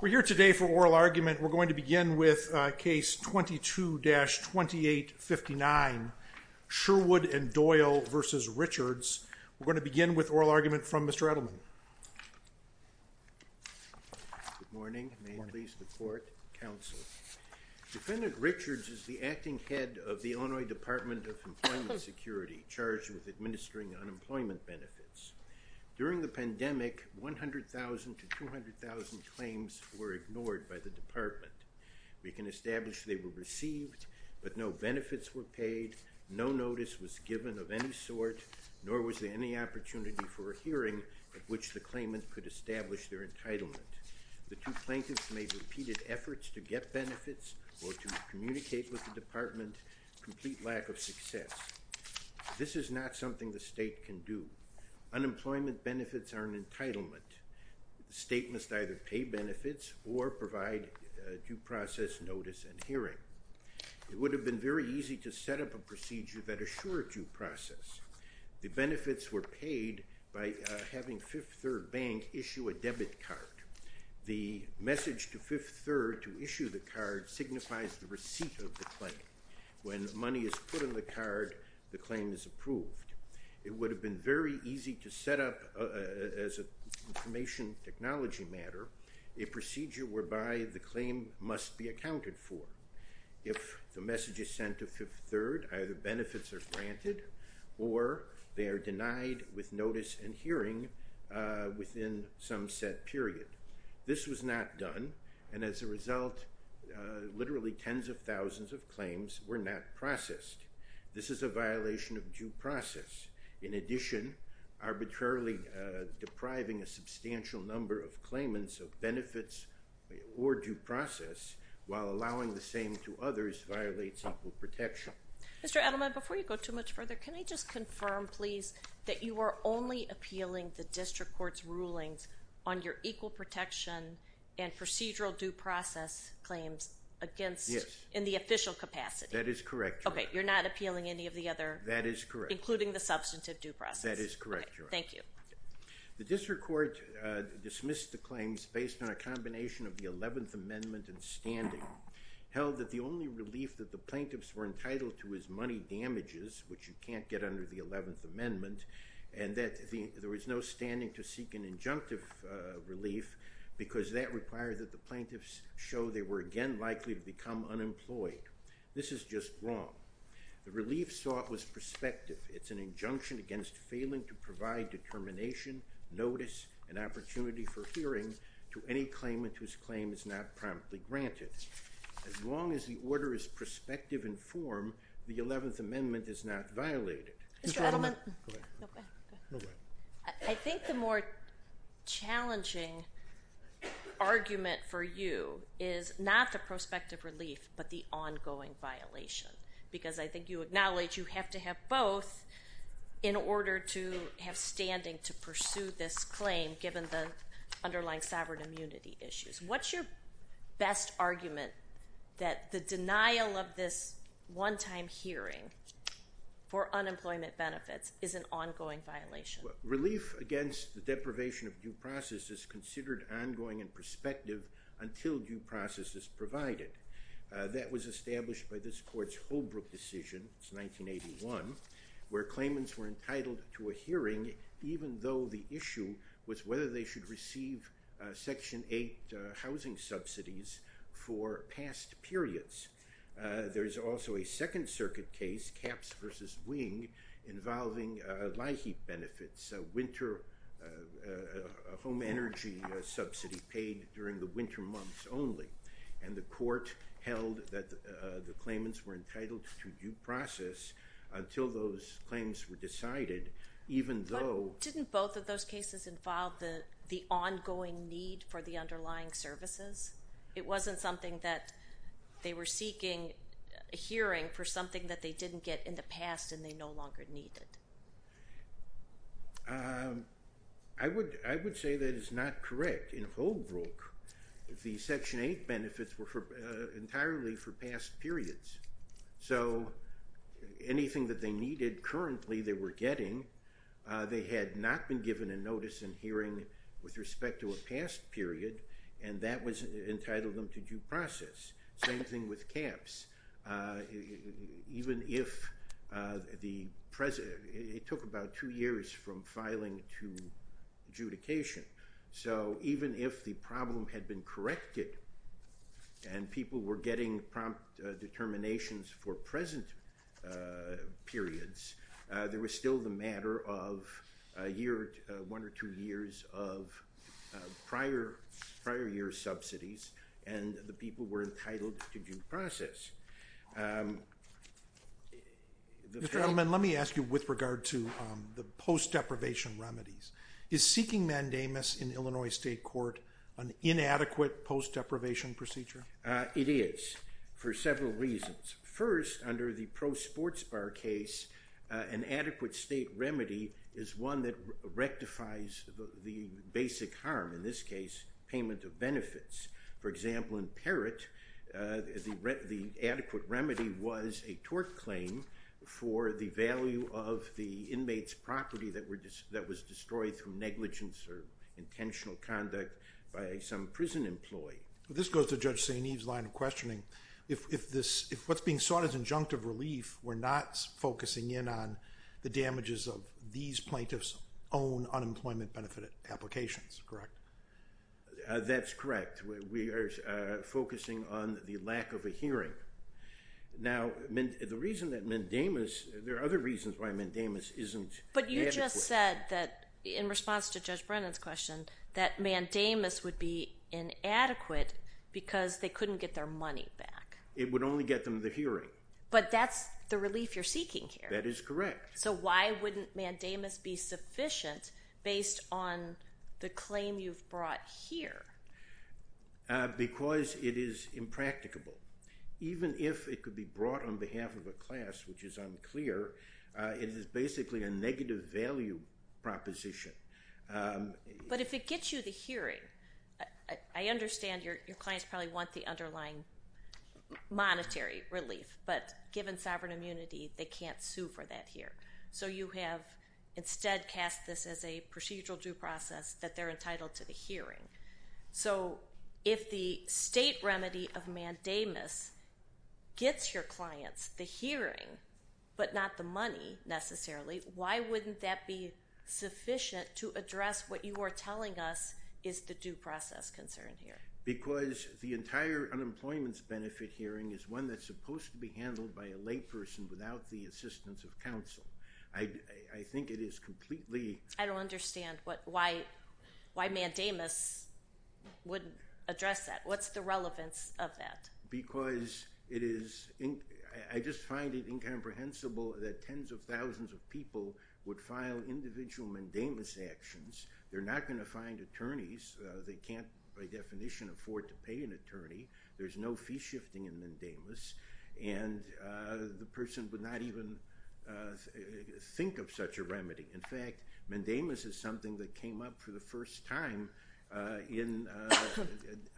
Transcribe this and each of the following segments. We're here today for oral argument. We're going to begin with case 22-2859 Sherwood and Doyle v. Richards. We're going to begin with oral argument from Mr. Edelman. Good morning. May it please the court, counsel. Defendant Richards is the acting head of the Illinois Department of Employment Security, charged with administering unemployment benefits. During the pandemic, 100,000 to 200,000 claims were ignored by the department. We can establish they were received, but no benefits were paid, no notice was given of any sort, nor was there any opportunity for a hearing at which the claimant could establish their entitlement. The two plaintiffs made repeated efforts to get benefits or to communicate with the department, complete lack of success. This is not something the state can do. Unemployment benefits are an entitlement. The state must either pay benefits or provide due process notice and hearing. It would have been very easy to set up a procedure that assured due process. The benefits were paid by having Fifth Third Bank issue a debit card. The message to Fifth Third to issue the card signifies the receipt of the claim. When money is put in the card, the claim is approved. It would have been very easy to set up, as an information technology matter, a procedure whereby the claim must be accounted for. If the message is sent to Fifth Third, either benefits are granted or they are denied with notice and some set period. This was not done, and as a result, literally tens of thousands of claims were not processed. This is a violation of due process. In addition, arbitrarily depriving a substantial number of claimants of benefits or due process while allowing the same to others violates equal protection. Mr. Edelman, before you go too much further, can I just confirm, please, that you are only appealing the District Court's rulings on your equal protection and procedural due process claims against, in the official capacity? That is correct, Your Honor. Okay, you're not appealing any of the other, including the substantive due process? That is correct, Your Honor. Okay, thank you. The District Court dismissed the claims based on a combination of the 11th Amendment and standing, held that the only relief that the plaintiffs were entitled to was money damages, which you can't get under the 11th Amendment, and that there was no standing to seek an injunctive relief because that required that the plaintiffs show they were again likely to become unemployed. This is just wrong. The relief sought was prospective. It's an injunction against failing to provide determination, notice, and opportunity for hearing to any claimant whose claim is not promptly granted. As long as the order is prospective in form, the 11th Amendment is not violated. Mr. Edelman, I think the more challenging argument for you is not the prospective relief, but the ongoing violation, because I think you acknowledge you have to have both in order to have standing to pursue this claim, given the underlying sovereign immunity issues. What's your best argument that the denial of this one-time hearing for unemployment benefits is an ongoing violation? Relief against the deprivation of due process is considered ongoing and prospective until due process is provided. That was established by this Court's Holbrook decision, it's 1981, where claimants were entitled to a hearing even though the issue was whether they should receive Section 8 housing subsidies for past periods. There's also a Second Circuit case, Capps v. Wing, involving LIHEAP benefits, a home energy subsidy paid during the winter months only, and the Court held that the claimants were entitled to due process until those claims were decided, even though... There was an ongoing need for the underlying services. It wasn't something that they were seeking a hearing for something that they didn't get in the past and they no longer needed. I would say that is not correct. In Holbrook, the Section 8 benefits were entirely for past periods, so anything that they needed currently they were getting, they had not been given a notice and hearing with respect to a past period, and that was entitled them to due process. Same thing with Capps. Even if the present... It took about two years from filing to adjudication, so even if the problem had been corrected and people were getting prompt one or two years of prior year subsidies, and the people were entitled to due process. Mr. Edelman, let me ask you with regard to the post-deprivation remedies. Is seeking mandamus in Illinois State Court an inadequate post-deprivation procedure? It is, for several reasons. First, under the Pro Sports Bar case, an adequate state remedy is one that rectifies the basic harm, in this case, payment of benefits. For example, in Parrott, the adequate remedy was a tort claim for the value of the inmate's property that was destroyed through negligence or intentional conduct by some prison employee. This goes to Judge St. Eve's line of questioning. If what's being sought as injunctive relief were not focusing in on the damages of these plaintiffs' own unemployment benefit applications, correct? That's correct. We are focusing on the lack of a hearing. Now, the reason that mandamus... There are other reasons why mandamus isn't adequate. But you just said that, in response to Judge Brennan's question, that mandamus would be inadequate because they couldn't get their money back. It would only get them the hearing. But that's the relief you're seeking here. That is correct. So why wouldn't mandamus be sufficient based on the claim you've brought here? Because it is impracticable. Even if it could be brought on behalf of a class, which is unclear, it is basically a negative value proposition. But if it gets you the hearing, I understand your clients probably want the underlying monetary relief, but given sovereign immunity, they can't sue for that here. So you have instead cast this as a procedural due process that they're entitled to the hearing. So if the state remedy of mandamus gets your clients the hearing, but not the money, necessarily, why wouldn't that be sufficient to address what you are telling us is the due process concern here? Because the entire unemployment benefit hearing is one that's supposed to be handled by a layperson without the assistance of counsel. I think it is completely— I don't understand why mandamus wouldn't address that. What's the relevance of that? Because it is—I just find it incomprehensible that tens of thousands of people would file individual mandamus actions. They're not going to find attorneys. They can't, by definition, afford to pay an attorney. There's no fee shifting in mandamus, and the person would not even think of such a remedy. In fact, mandamus is something that came up for the first time in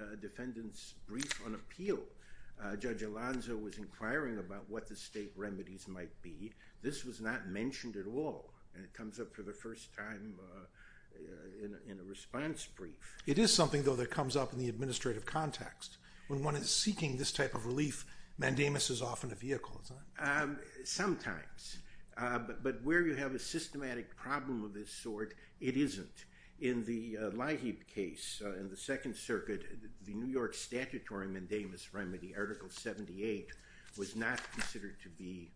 a defendant's brief on appeal. Judge Alonzo was inquiring about what the state remedies might be. This was not mentioned at all, and it comes up for the first time in a response brief. It is something, though, that comes up in the administrative context. When one is seeking this type of relief, mandamus is often a vehicle, isn't it? Sometimes, but where you have a systematic problem of this sort, it isn't. In the Leahy case, in the Second Circuit, the New York statutory mandamus remedy, Article 78, was not considered to be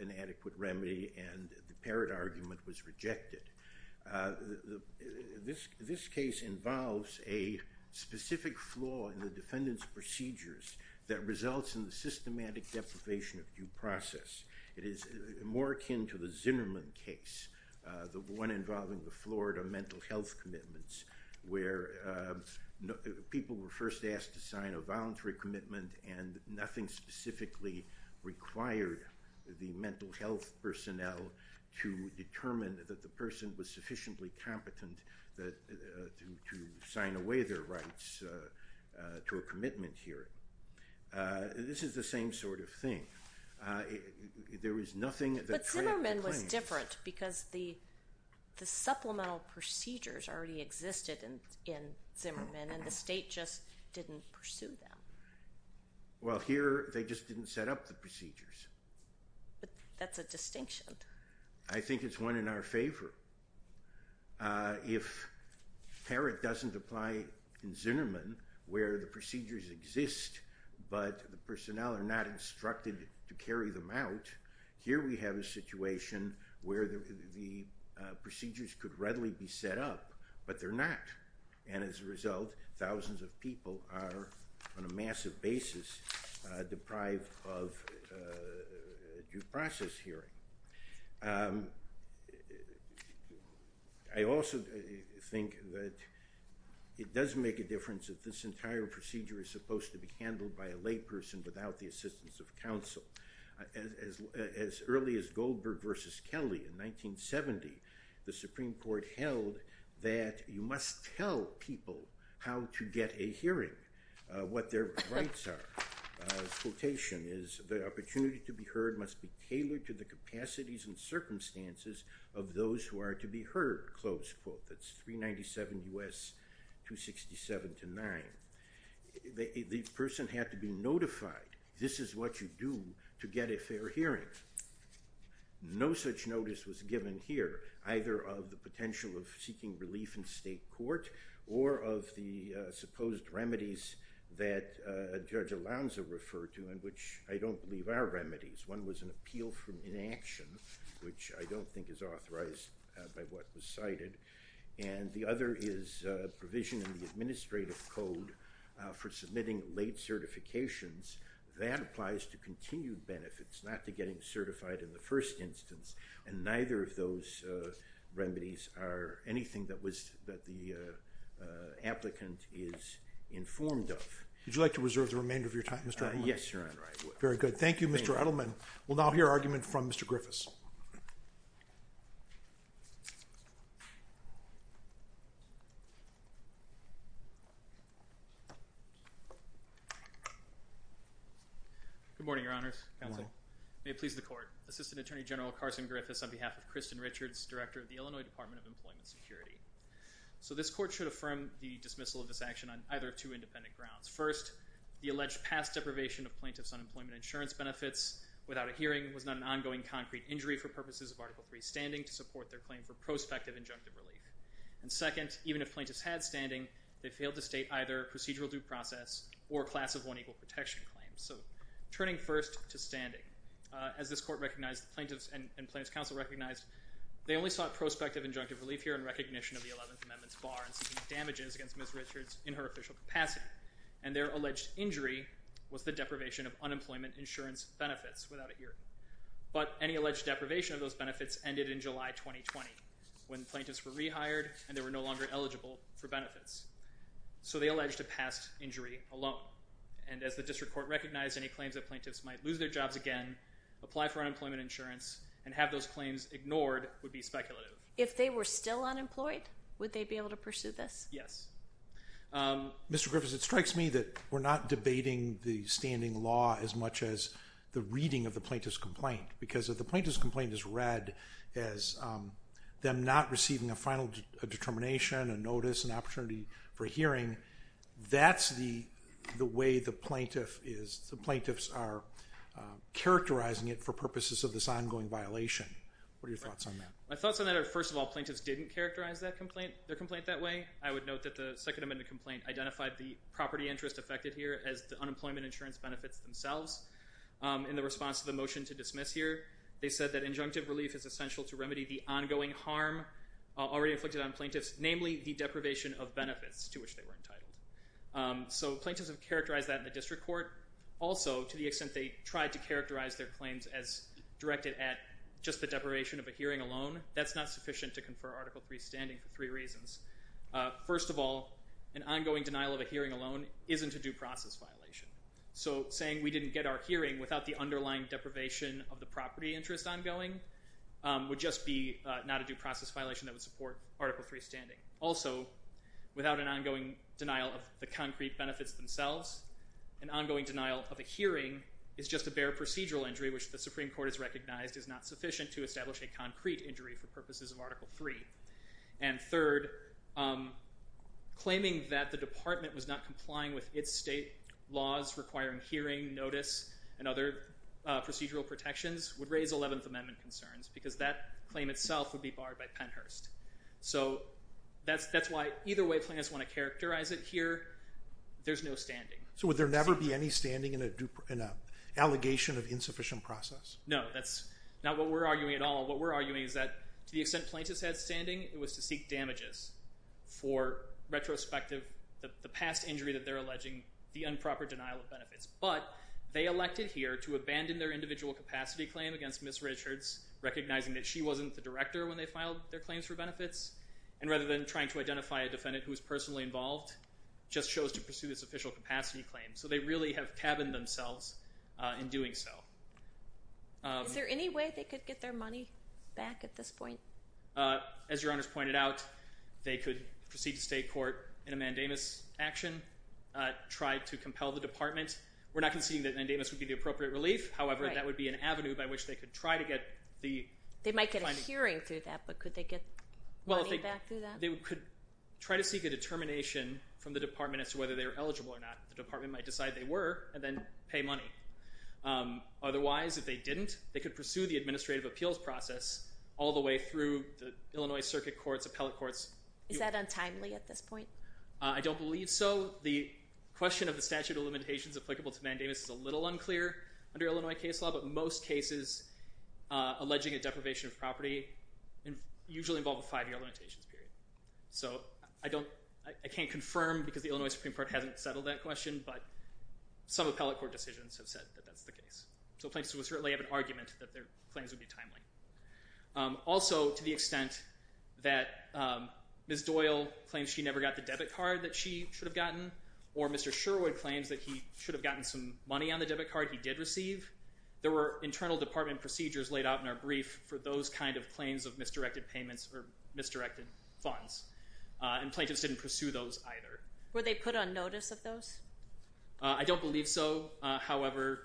an adequate remedy, and the Parrott argument was rejected. This case involves a specific flaw in the defendant's procedures that results in the systematic deprivation of due process. It is more akin to the Zinnerman case, the one involving the Florida mental health commitments, where people were first asked to sign a voluntary commitment and nothing specifically required the mental health personnel to determine that the person was sufficiently competent to sign away their rights to a commitment hearing. This is the same sort of thing. There is nothing that— because the supplemental procedures already existed in Zinnerman, and the state just didn't pursue them. Well, here, they just didn't set up the procedures. But that's a distinction. I think it's one in our favor. If Parrott doesn't apply in Zinnerman, where the procedures exist, but the personnel are not instructed to carry them out, here we have a situation where the procedures could readily be set up, but they're not. And as a result, thousands of people are on a massive basis deprived of due process hearing. I also think that it does make a difference if this entire procedure is supposed to be done without the assistance of counsel. As early as Goldberg v. Kelly in 1970, the Supreme Court held that you must tell people how to get a hearing, what their rights are. Quotation is, the opportunity to be heard must be tailored to the capacities and circumstances of those who are to be heard, close quote, that's 397 U.S. 267 to 9. The person had to be notified. This is what you do to get a fair hearing. No such notice was given here, either of the potential of seeking relief in state court or of the supposed remedies that Judge Alonzo referred to, which I don't believe are remedies. One was an appeal for inaction, which I don't think is authorized by what was cited. And the other is a provision in the administrative code for submitting late certifications. That applies to continued benefits, not to getting certified in the first instance. And neither of those remedies are anything that the applicant is informed of. Would you like to reserve the remainder of your time, Mr. Edelman? Yes, Your Honor, I would. Very good. Thank you, Mr. Edelman. We'll now hear argument from Mr. Griffiths. Mr. Griffiths. Good morning, Your Honors. Good morning. May it please the Court. Assistant Attorney General Carson Griffiths on behalf of Kristen Richards, Director of the Illinois Department of Employment Security. So, this Court should affirm the dismissal of this action on either of two independent grounds. First, the alleged past deprivation of plaintiff's unemployment insurance benefits without a hearing for purposes of Article III standing to support their claim for prospective injunctive relief. And second, even if plaintiffs had standing, they failed to state either procedural due process or class of one equal protection claim. So, turning first to standing. As this Court recognized, the plaintiffs and Plaintiff's Counsel recognized, they only sought prospective injunctive relief here in recognition of the Eleventh Amendment's bar in seeking damages against Ms. Richards in her official capacity. And their alleged injury was the deprivation of unemployment insurance benefits without a hearing. But any alleged deprivation of those benefits ended in July 2020 when plaintiffs were rehired and they were no longer eligible for benefits. So, they alleged a past injury alone. And as the District Court recognized any claims that plaintiffs might lose their jobs again, apply for unemployment insurance, and have those claims ignored would be speculative. If they were still unemployed, would they be able to pursue this? Yes. Mr. Griffiths, it strikes me that we're not debating the standing law as much as the reading of the plaintiff's complaint, because if the plaintiff's complaint is read as them not receiving a final determination, a notice, an opportunity for hearing, that's the way the plaintiff is, the plaintiffs are characterizing it for purposes of this ongoing violation. What are your thoughts on that? My thoughts on that are, first of all, plaintiffs didn't characterize their complaint that way. I would note that the Second Amendment complaint identified the property interest affected here as the unemployment insurance benefits themselves. In the response to the motion to dismiss here, they said that injunctive relief is essential to remedy the ongoing harm already inflicted on plaintiffs, namely the deprivation of benefits to which they were entitled. So, plaintiffs have characterized that in the District Court. Also, to the extent they tried to characterize their claims as directed at just the deprivation of a hearing alone, that's not sufficient to confer Article III standing for three reasons. First of all, an ongoing denial of a hearing alone isn't a due process violation. So, saying we didn't get our hearing without the underlying deprivation of the property interest ongoing would just be not a due process violation that would support Article III standing. Also, without an ongoing denial of the concrete benefits themselves, an ongoing denial of a hearing is just a bare procedural injury, which the Supreme Court has recognized is not sufficient to establish a concrete injury for purposes of Article III. And third, claiming that the Department was not complying with its state laws requiring hearing, notice, and other procedural protections would raise Eleventh Amendment concerns, because that claim itself would be barred by Pennhurst. So, that's why either way plaintiffs want to characterize it here, there's no standing. So, would there never be any standing in an allegation of insufficient process? No, that's not what we're arguing at all. What we're arguing is that, to the extent plaintiffs had standing, it was to seek damages for, retrospective, the past injury that they're alleging, the improper denial of benefits. But, they elected here to abandon their individual capacity claim against Ms. Richards, recognizing that she wasn't the director when they filed their claims for benefits, and rather than trying to identify a defendant who was personally involved, just chose to pursue this official capacity claim. So, they really have cabined themselves in doing so. Is there any way they could get their money back at this point? As your Honor's pointed out, they could proceed to state court in a mandamus action, try to compel the Department. We're not conceding that mandamus would be the appropriate relief, however, that would be an avenue by which they could try to get the... They might get a hearing through that, but could they get money back through that? They could try to seek a determination from the Department as to whether they're eligible or not. The Department might decide they were, and then pay money. Otherwise, if they didn't, they could pursue the administrative appeals process all the way through the Illinois Circuit Courts, Appellate Courts. Is that untimely at this point? I don't believe so. The question of the statute of limitations applicable to mandamus is a little unclear under Illinois case law, but most cases alleging a deprivation of property usually involve a five-year limitations period. So, I can't confirm because the Illinois Supreme Court hasn't settled that question, but some Appellate Court decisions have said that that's the case. So, plaintiffs would certainly have an argument that their claims would be timely. Also, to the extent that Ms. Doyle claims she never got the debit card that she should have gotten, or Mr. Sherwood claims that he should have gotten some money on the debit card he did receive, there were internal Department procedures laid out in our brief for those kind of claims of misdirected payments or misdirected funds, and plaintiffs didn't pursue those either. Were they put on notice of those? I don't believe so. However,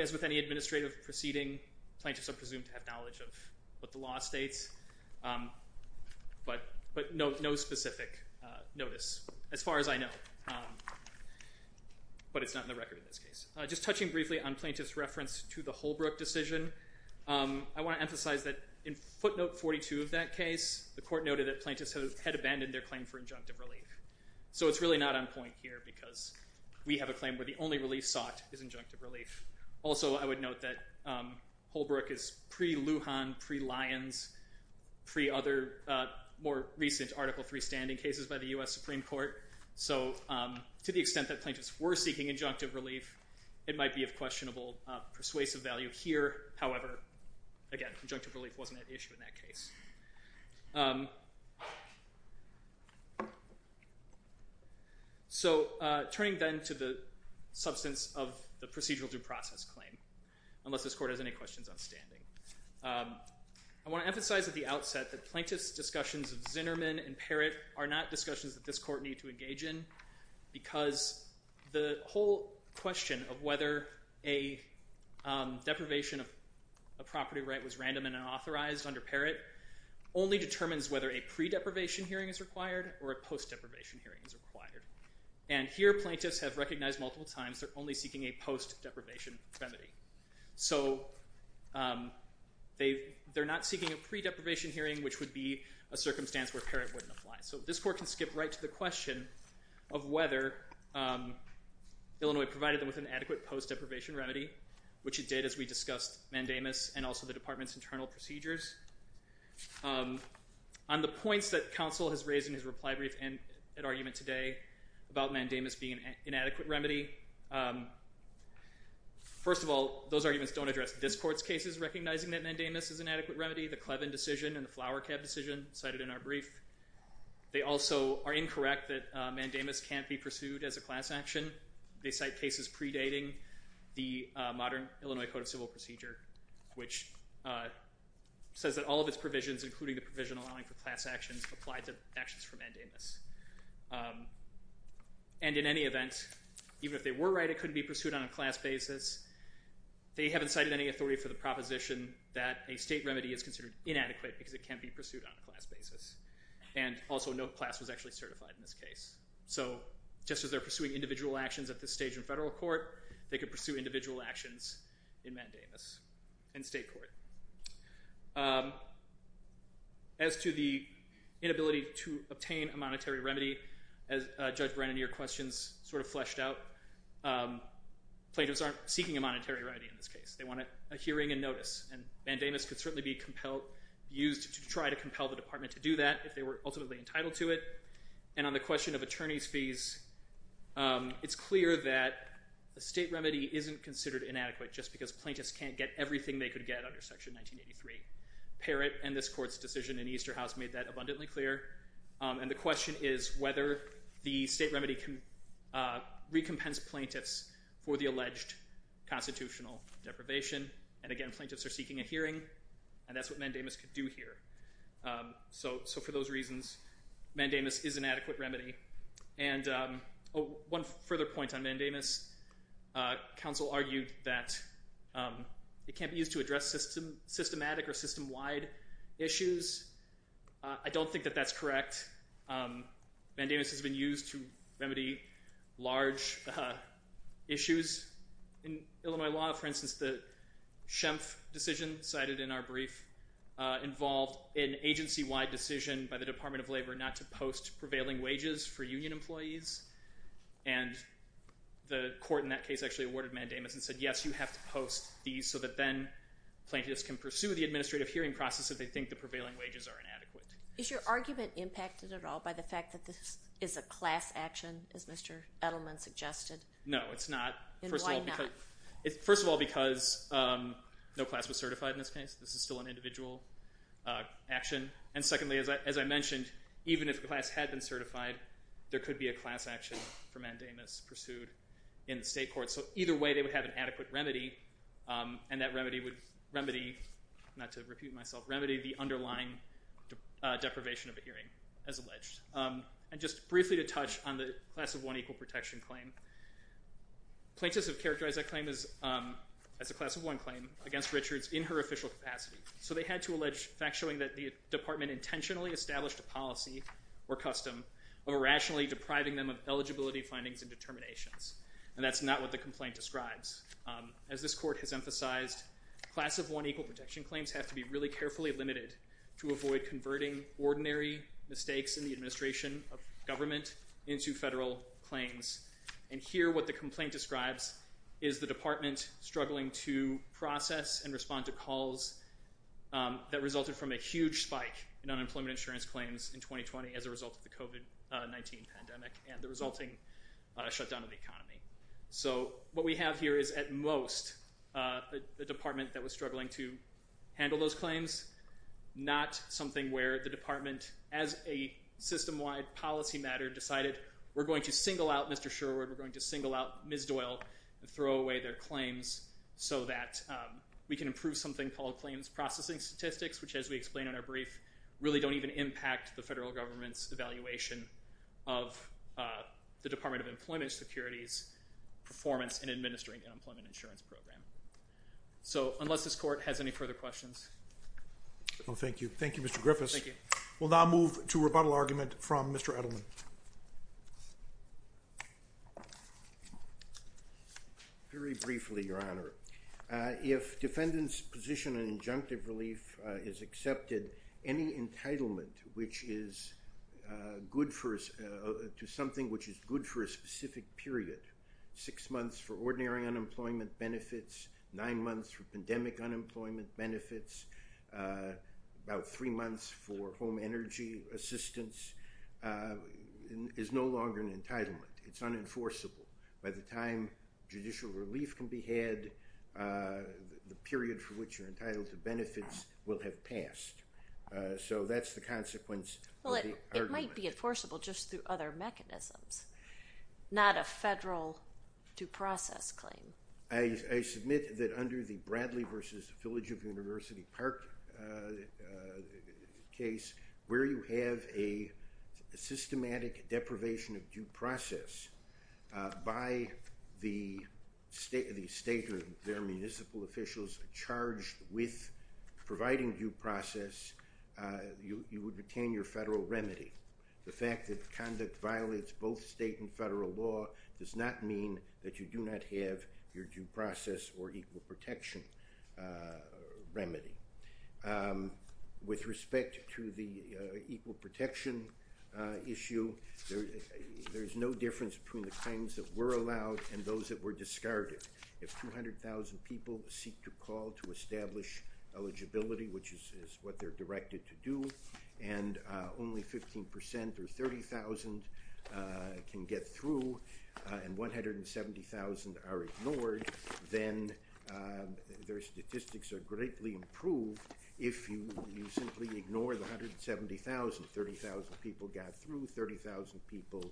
as with any administrative proceeding, plaintiffs are presumed to have knowledge of what the law states, but no specific notice as far as I know. But it's not in the record in this case. Just touching briefly on plaintiffs' reference to the Holbrook decision, I want to emphasize that in footnote 42 of that case, the court noted that plaintiffs had abandoned their claim for injunctive relief. So, it's really not on point here because we have a claim where the only relief sought is injunctive relief. Also, I would note that Holbrook is pre-Lujan, pre-Lyons, pre-other more recent Article III standing cases by the U.S. Supreme Court. So, to the extent that plaintiffs were seeking injunctive relief, it might be of questionable persuasive value here. So, turning then to the substance of the procedural due process claim, unless this court has any questions on standing. I want to emphasize at the outset that plaintiffs' discussions of Zinnerman and Parrott are not discussions that this court need to engage in because the whole question of whether a deprivation of a property right was random and unauthorized under Parrott only determines whether a pre-deprivation hearing is required or a post-deprivation hearing is required. And here, plaintiffs have recognized multiple times they're only seeking a post-deprivation remedy. So, they're not seeking a pre-deprivation hearing, which would be a circumstance where Parrott wouldn't apply. So, this court can skip right to the question of whether Illinois provided them with an adequate post-deprivation remedy, which it did as we discussed Mandamus and also the department's internal procedures. On the points that counsel has raised in his reply brief and argument today about Mandamus being an inadequate remedy, first of all, those arguments don't address this court's cases recognizing that Mandamus is an inadequate remedy. The Clevin decision and the Flower Cab decision cited in our brief. They also are incorrect that Mandamus can't be pursued as a class action. They cite cases predating the modern Illinois Code of Civil Procedure, which says that all of its provisions, including the provision allowing for class actions, apply to actions for Mandamus. And in any event, even if they were right, it couldn't be pursued on a class basis. They haven't cited any authority for the proposition that a state remedy is considered inadequate because it can't be pursued on a class basis. And also, no class was actually certified in this case. So, just as they're pursuing individual actions at this stage in federal court, they could pursue individual actions in Mandamus in state court. As to the inability to obtain a monetary remedy, as Judge Brennan, your questions sort of fleshed out, plaintiffs aren't seeking a monetary remedy in this case. They want a hearing and notice. And Mandamus could certainly be used to try to compel the department to do that if they were ultimately entitled to it. And on the question of attorney's fees, it's clear that a state remedy isn't considered inadequate just because plaintiffs can't get everything they could get under Section 1983. Parrott and this court's decision in Easterhouse made that abundantly clear. And the question is whether the state remedy can recompense plaintiffs for the alleged constitutional deprivation. And again, plaintiffs are seeking a hearing, and that's what Mandamus could do here. So, for those reasons, Mandamus is an adequate remedy. And one further point on Mandamus, counsel argued that it can't be used to address systematic or system-wide issues. I don't think that that's correct. Mandamus has been used to remedy large issues. In Illinois law, for instance, the Schemf decision cited in our brief prevailing wages for union employees. And the court in that case actually awarded Mandamus and said, yes, you have to post these so that then plaintiffs can pursue the administrative hearing process if they think the prevailing wages are inadequate. Is your argument impacted at all by the fact that this is a class action, as Mr. Edelman suggested? No, it's not. And why not? First of all, because no class was certified in this case. This is still an individual action. And secondly, as I mentioned, even if a class had been certified, there could be a class action for Mandamus pursued in the state court. So either way, they would have an adequate remedy, and that remedy would remedy, not to repute myself, remedy the underlying deprivation of a hearing, as alleged. And just briefly to touch on the class of one equal protection claim, plaintiffs have characterized that claim as a class of one claim against Richards in her official capacity. So they had to allege facts showing that the department intentionally established a policy or custom of irrationally depriving them of eligibility findings and determinations. And that's not what the complaint describes. As this court has emphasized, class of one equal protection claims have to be really carefully limited to avoid converting ordinary mistakes in the administration of government into federal claims. And here what the complaint describes is the department struggling to process and respond to calls that resulted from a huge spike in unemployment insurance claims in 2020 as a result of the COVID-19 pandemic and the resulting shutdown of the economy. So what we have here is at most a department that was struggling to handle those claims, not something where the department, as a system-wide policy matter, decided, we're going to single out Mr. Sherwood, we're going to single out Ms. Doyle, and throw away their claims so that we can improve something called claims processing statistics, which, as we explained in our brief, really don't even impact the federal government's evaluation of the Department of Employment Security's performance in administering the unemployment insurance program. So unless this court has any further questions. Thank you. Thank you, Mr. Griffiths. We'll now move to a rebuttal argument from Mr. Edelman. Very briefly, Your Honor. If defendant's position in injunctive relief is accepted, any entitlement to something which is good for a specific period, six months for ordinary unemployment benefits, nine months for pandemic unemployment benefits, about three months for home energy assistance, is no longer an entitlement. It's unenforceable. By the time judicial relief can be had, the period for which you're entitled to benefits will have passed. So that's the consequence of the argument. Well, it might be enforceable just through other mechanisms, not a federal due process claim. I submit that under the Bradley v. Village of University Park case, where you have a systematic deprivation of due process by the state or their municipal officials charged with providing due process, you would retain your federal remedy. The fact that conduct violates both state and federal law does not mean that you do not have your due process or equal protection remedy. With respect to the equal protection issue, there is no difference between the claims that were allowed and those that were discarded. If 200,000 people seek to call to establish eligibility, which is what they're directed to do, and only 15 percent or 30,000 can get through and 170,000 are ignored, then their statistics are greatly improved. If you simply ignore the 170,000, 30,000 people got through, 30,000 people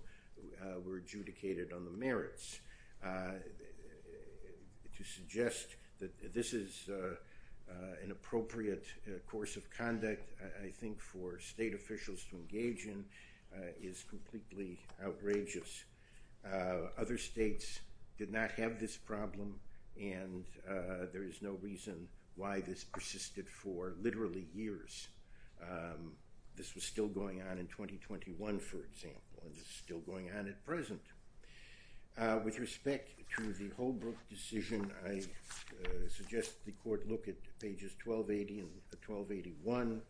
were adjudicated on the merits. To suggest that this is an appropriate course of conduct, I think, for state officials to engage in is completely outrageous. Other states did not have this problem, and there is no reason why this persisted for literally years. This was still going on in 2021, for example, and it's still going on at present. With respect to the Holbrook decision, I suggest the court look at pages 1280 and 1281,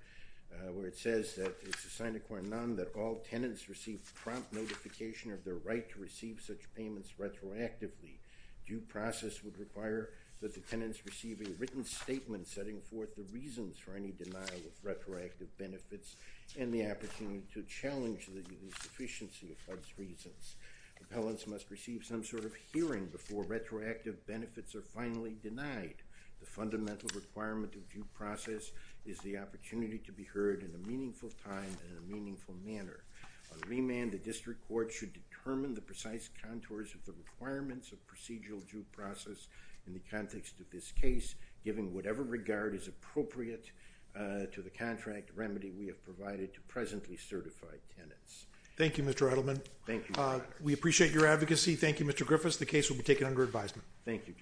where it says that it's a signiquant none that all tenants receive prompt notification of their right to receive such payments retroactively. Due process would require that the tenants receive a written statement setting forth the reasons for any denial of retroactive benefits and the opportunity to challenge the sufficiency of those reasons. Appellants must receive some sort of hearing before retroactive benefits are finally denied. The fundamental requirement of due process is the opportunity to be heard in a meaningful time and in a meaningful manner. On remand, the district court should determine the precise contours of the requirements of procedural due process in the context of this case, giving whatever regard is appropriate to the contract remedy we have provided to presently certified tenants. Thank you, Mr. Edelman. Thank you. We appreciate your advocacy. Thank you, Mr. Griffiths. The case will be taken under advisement. Thank you.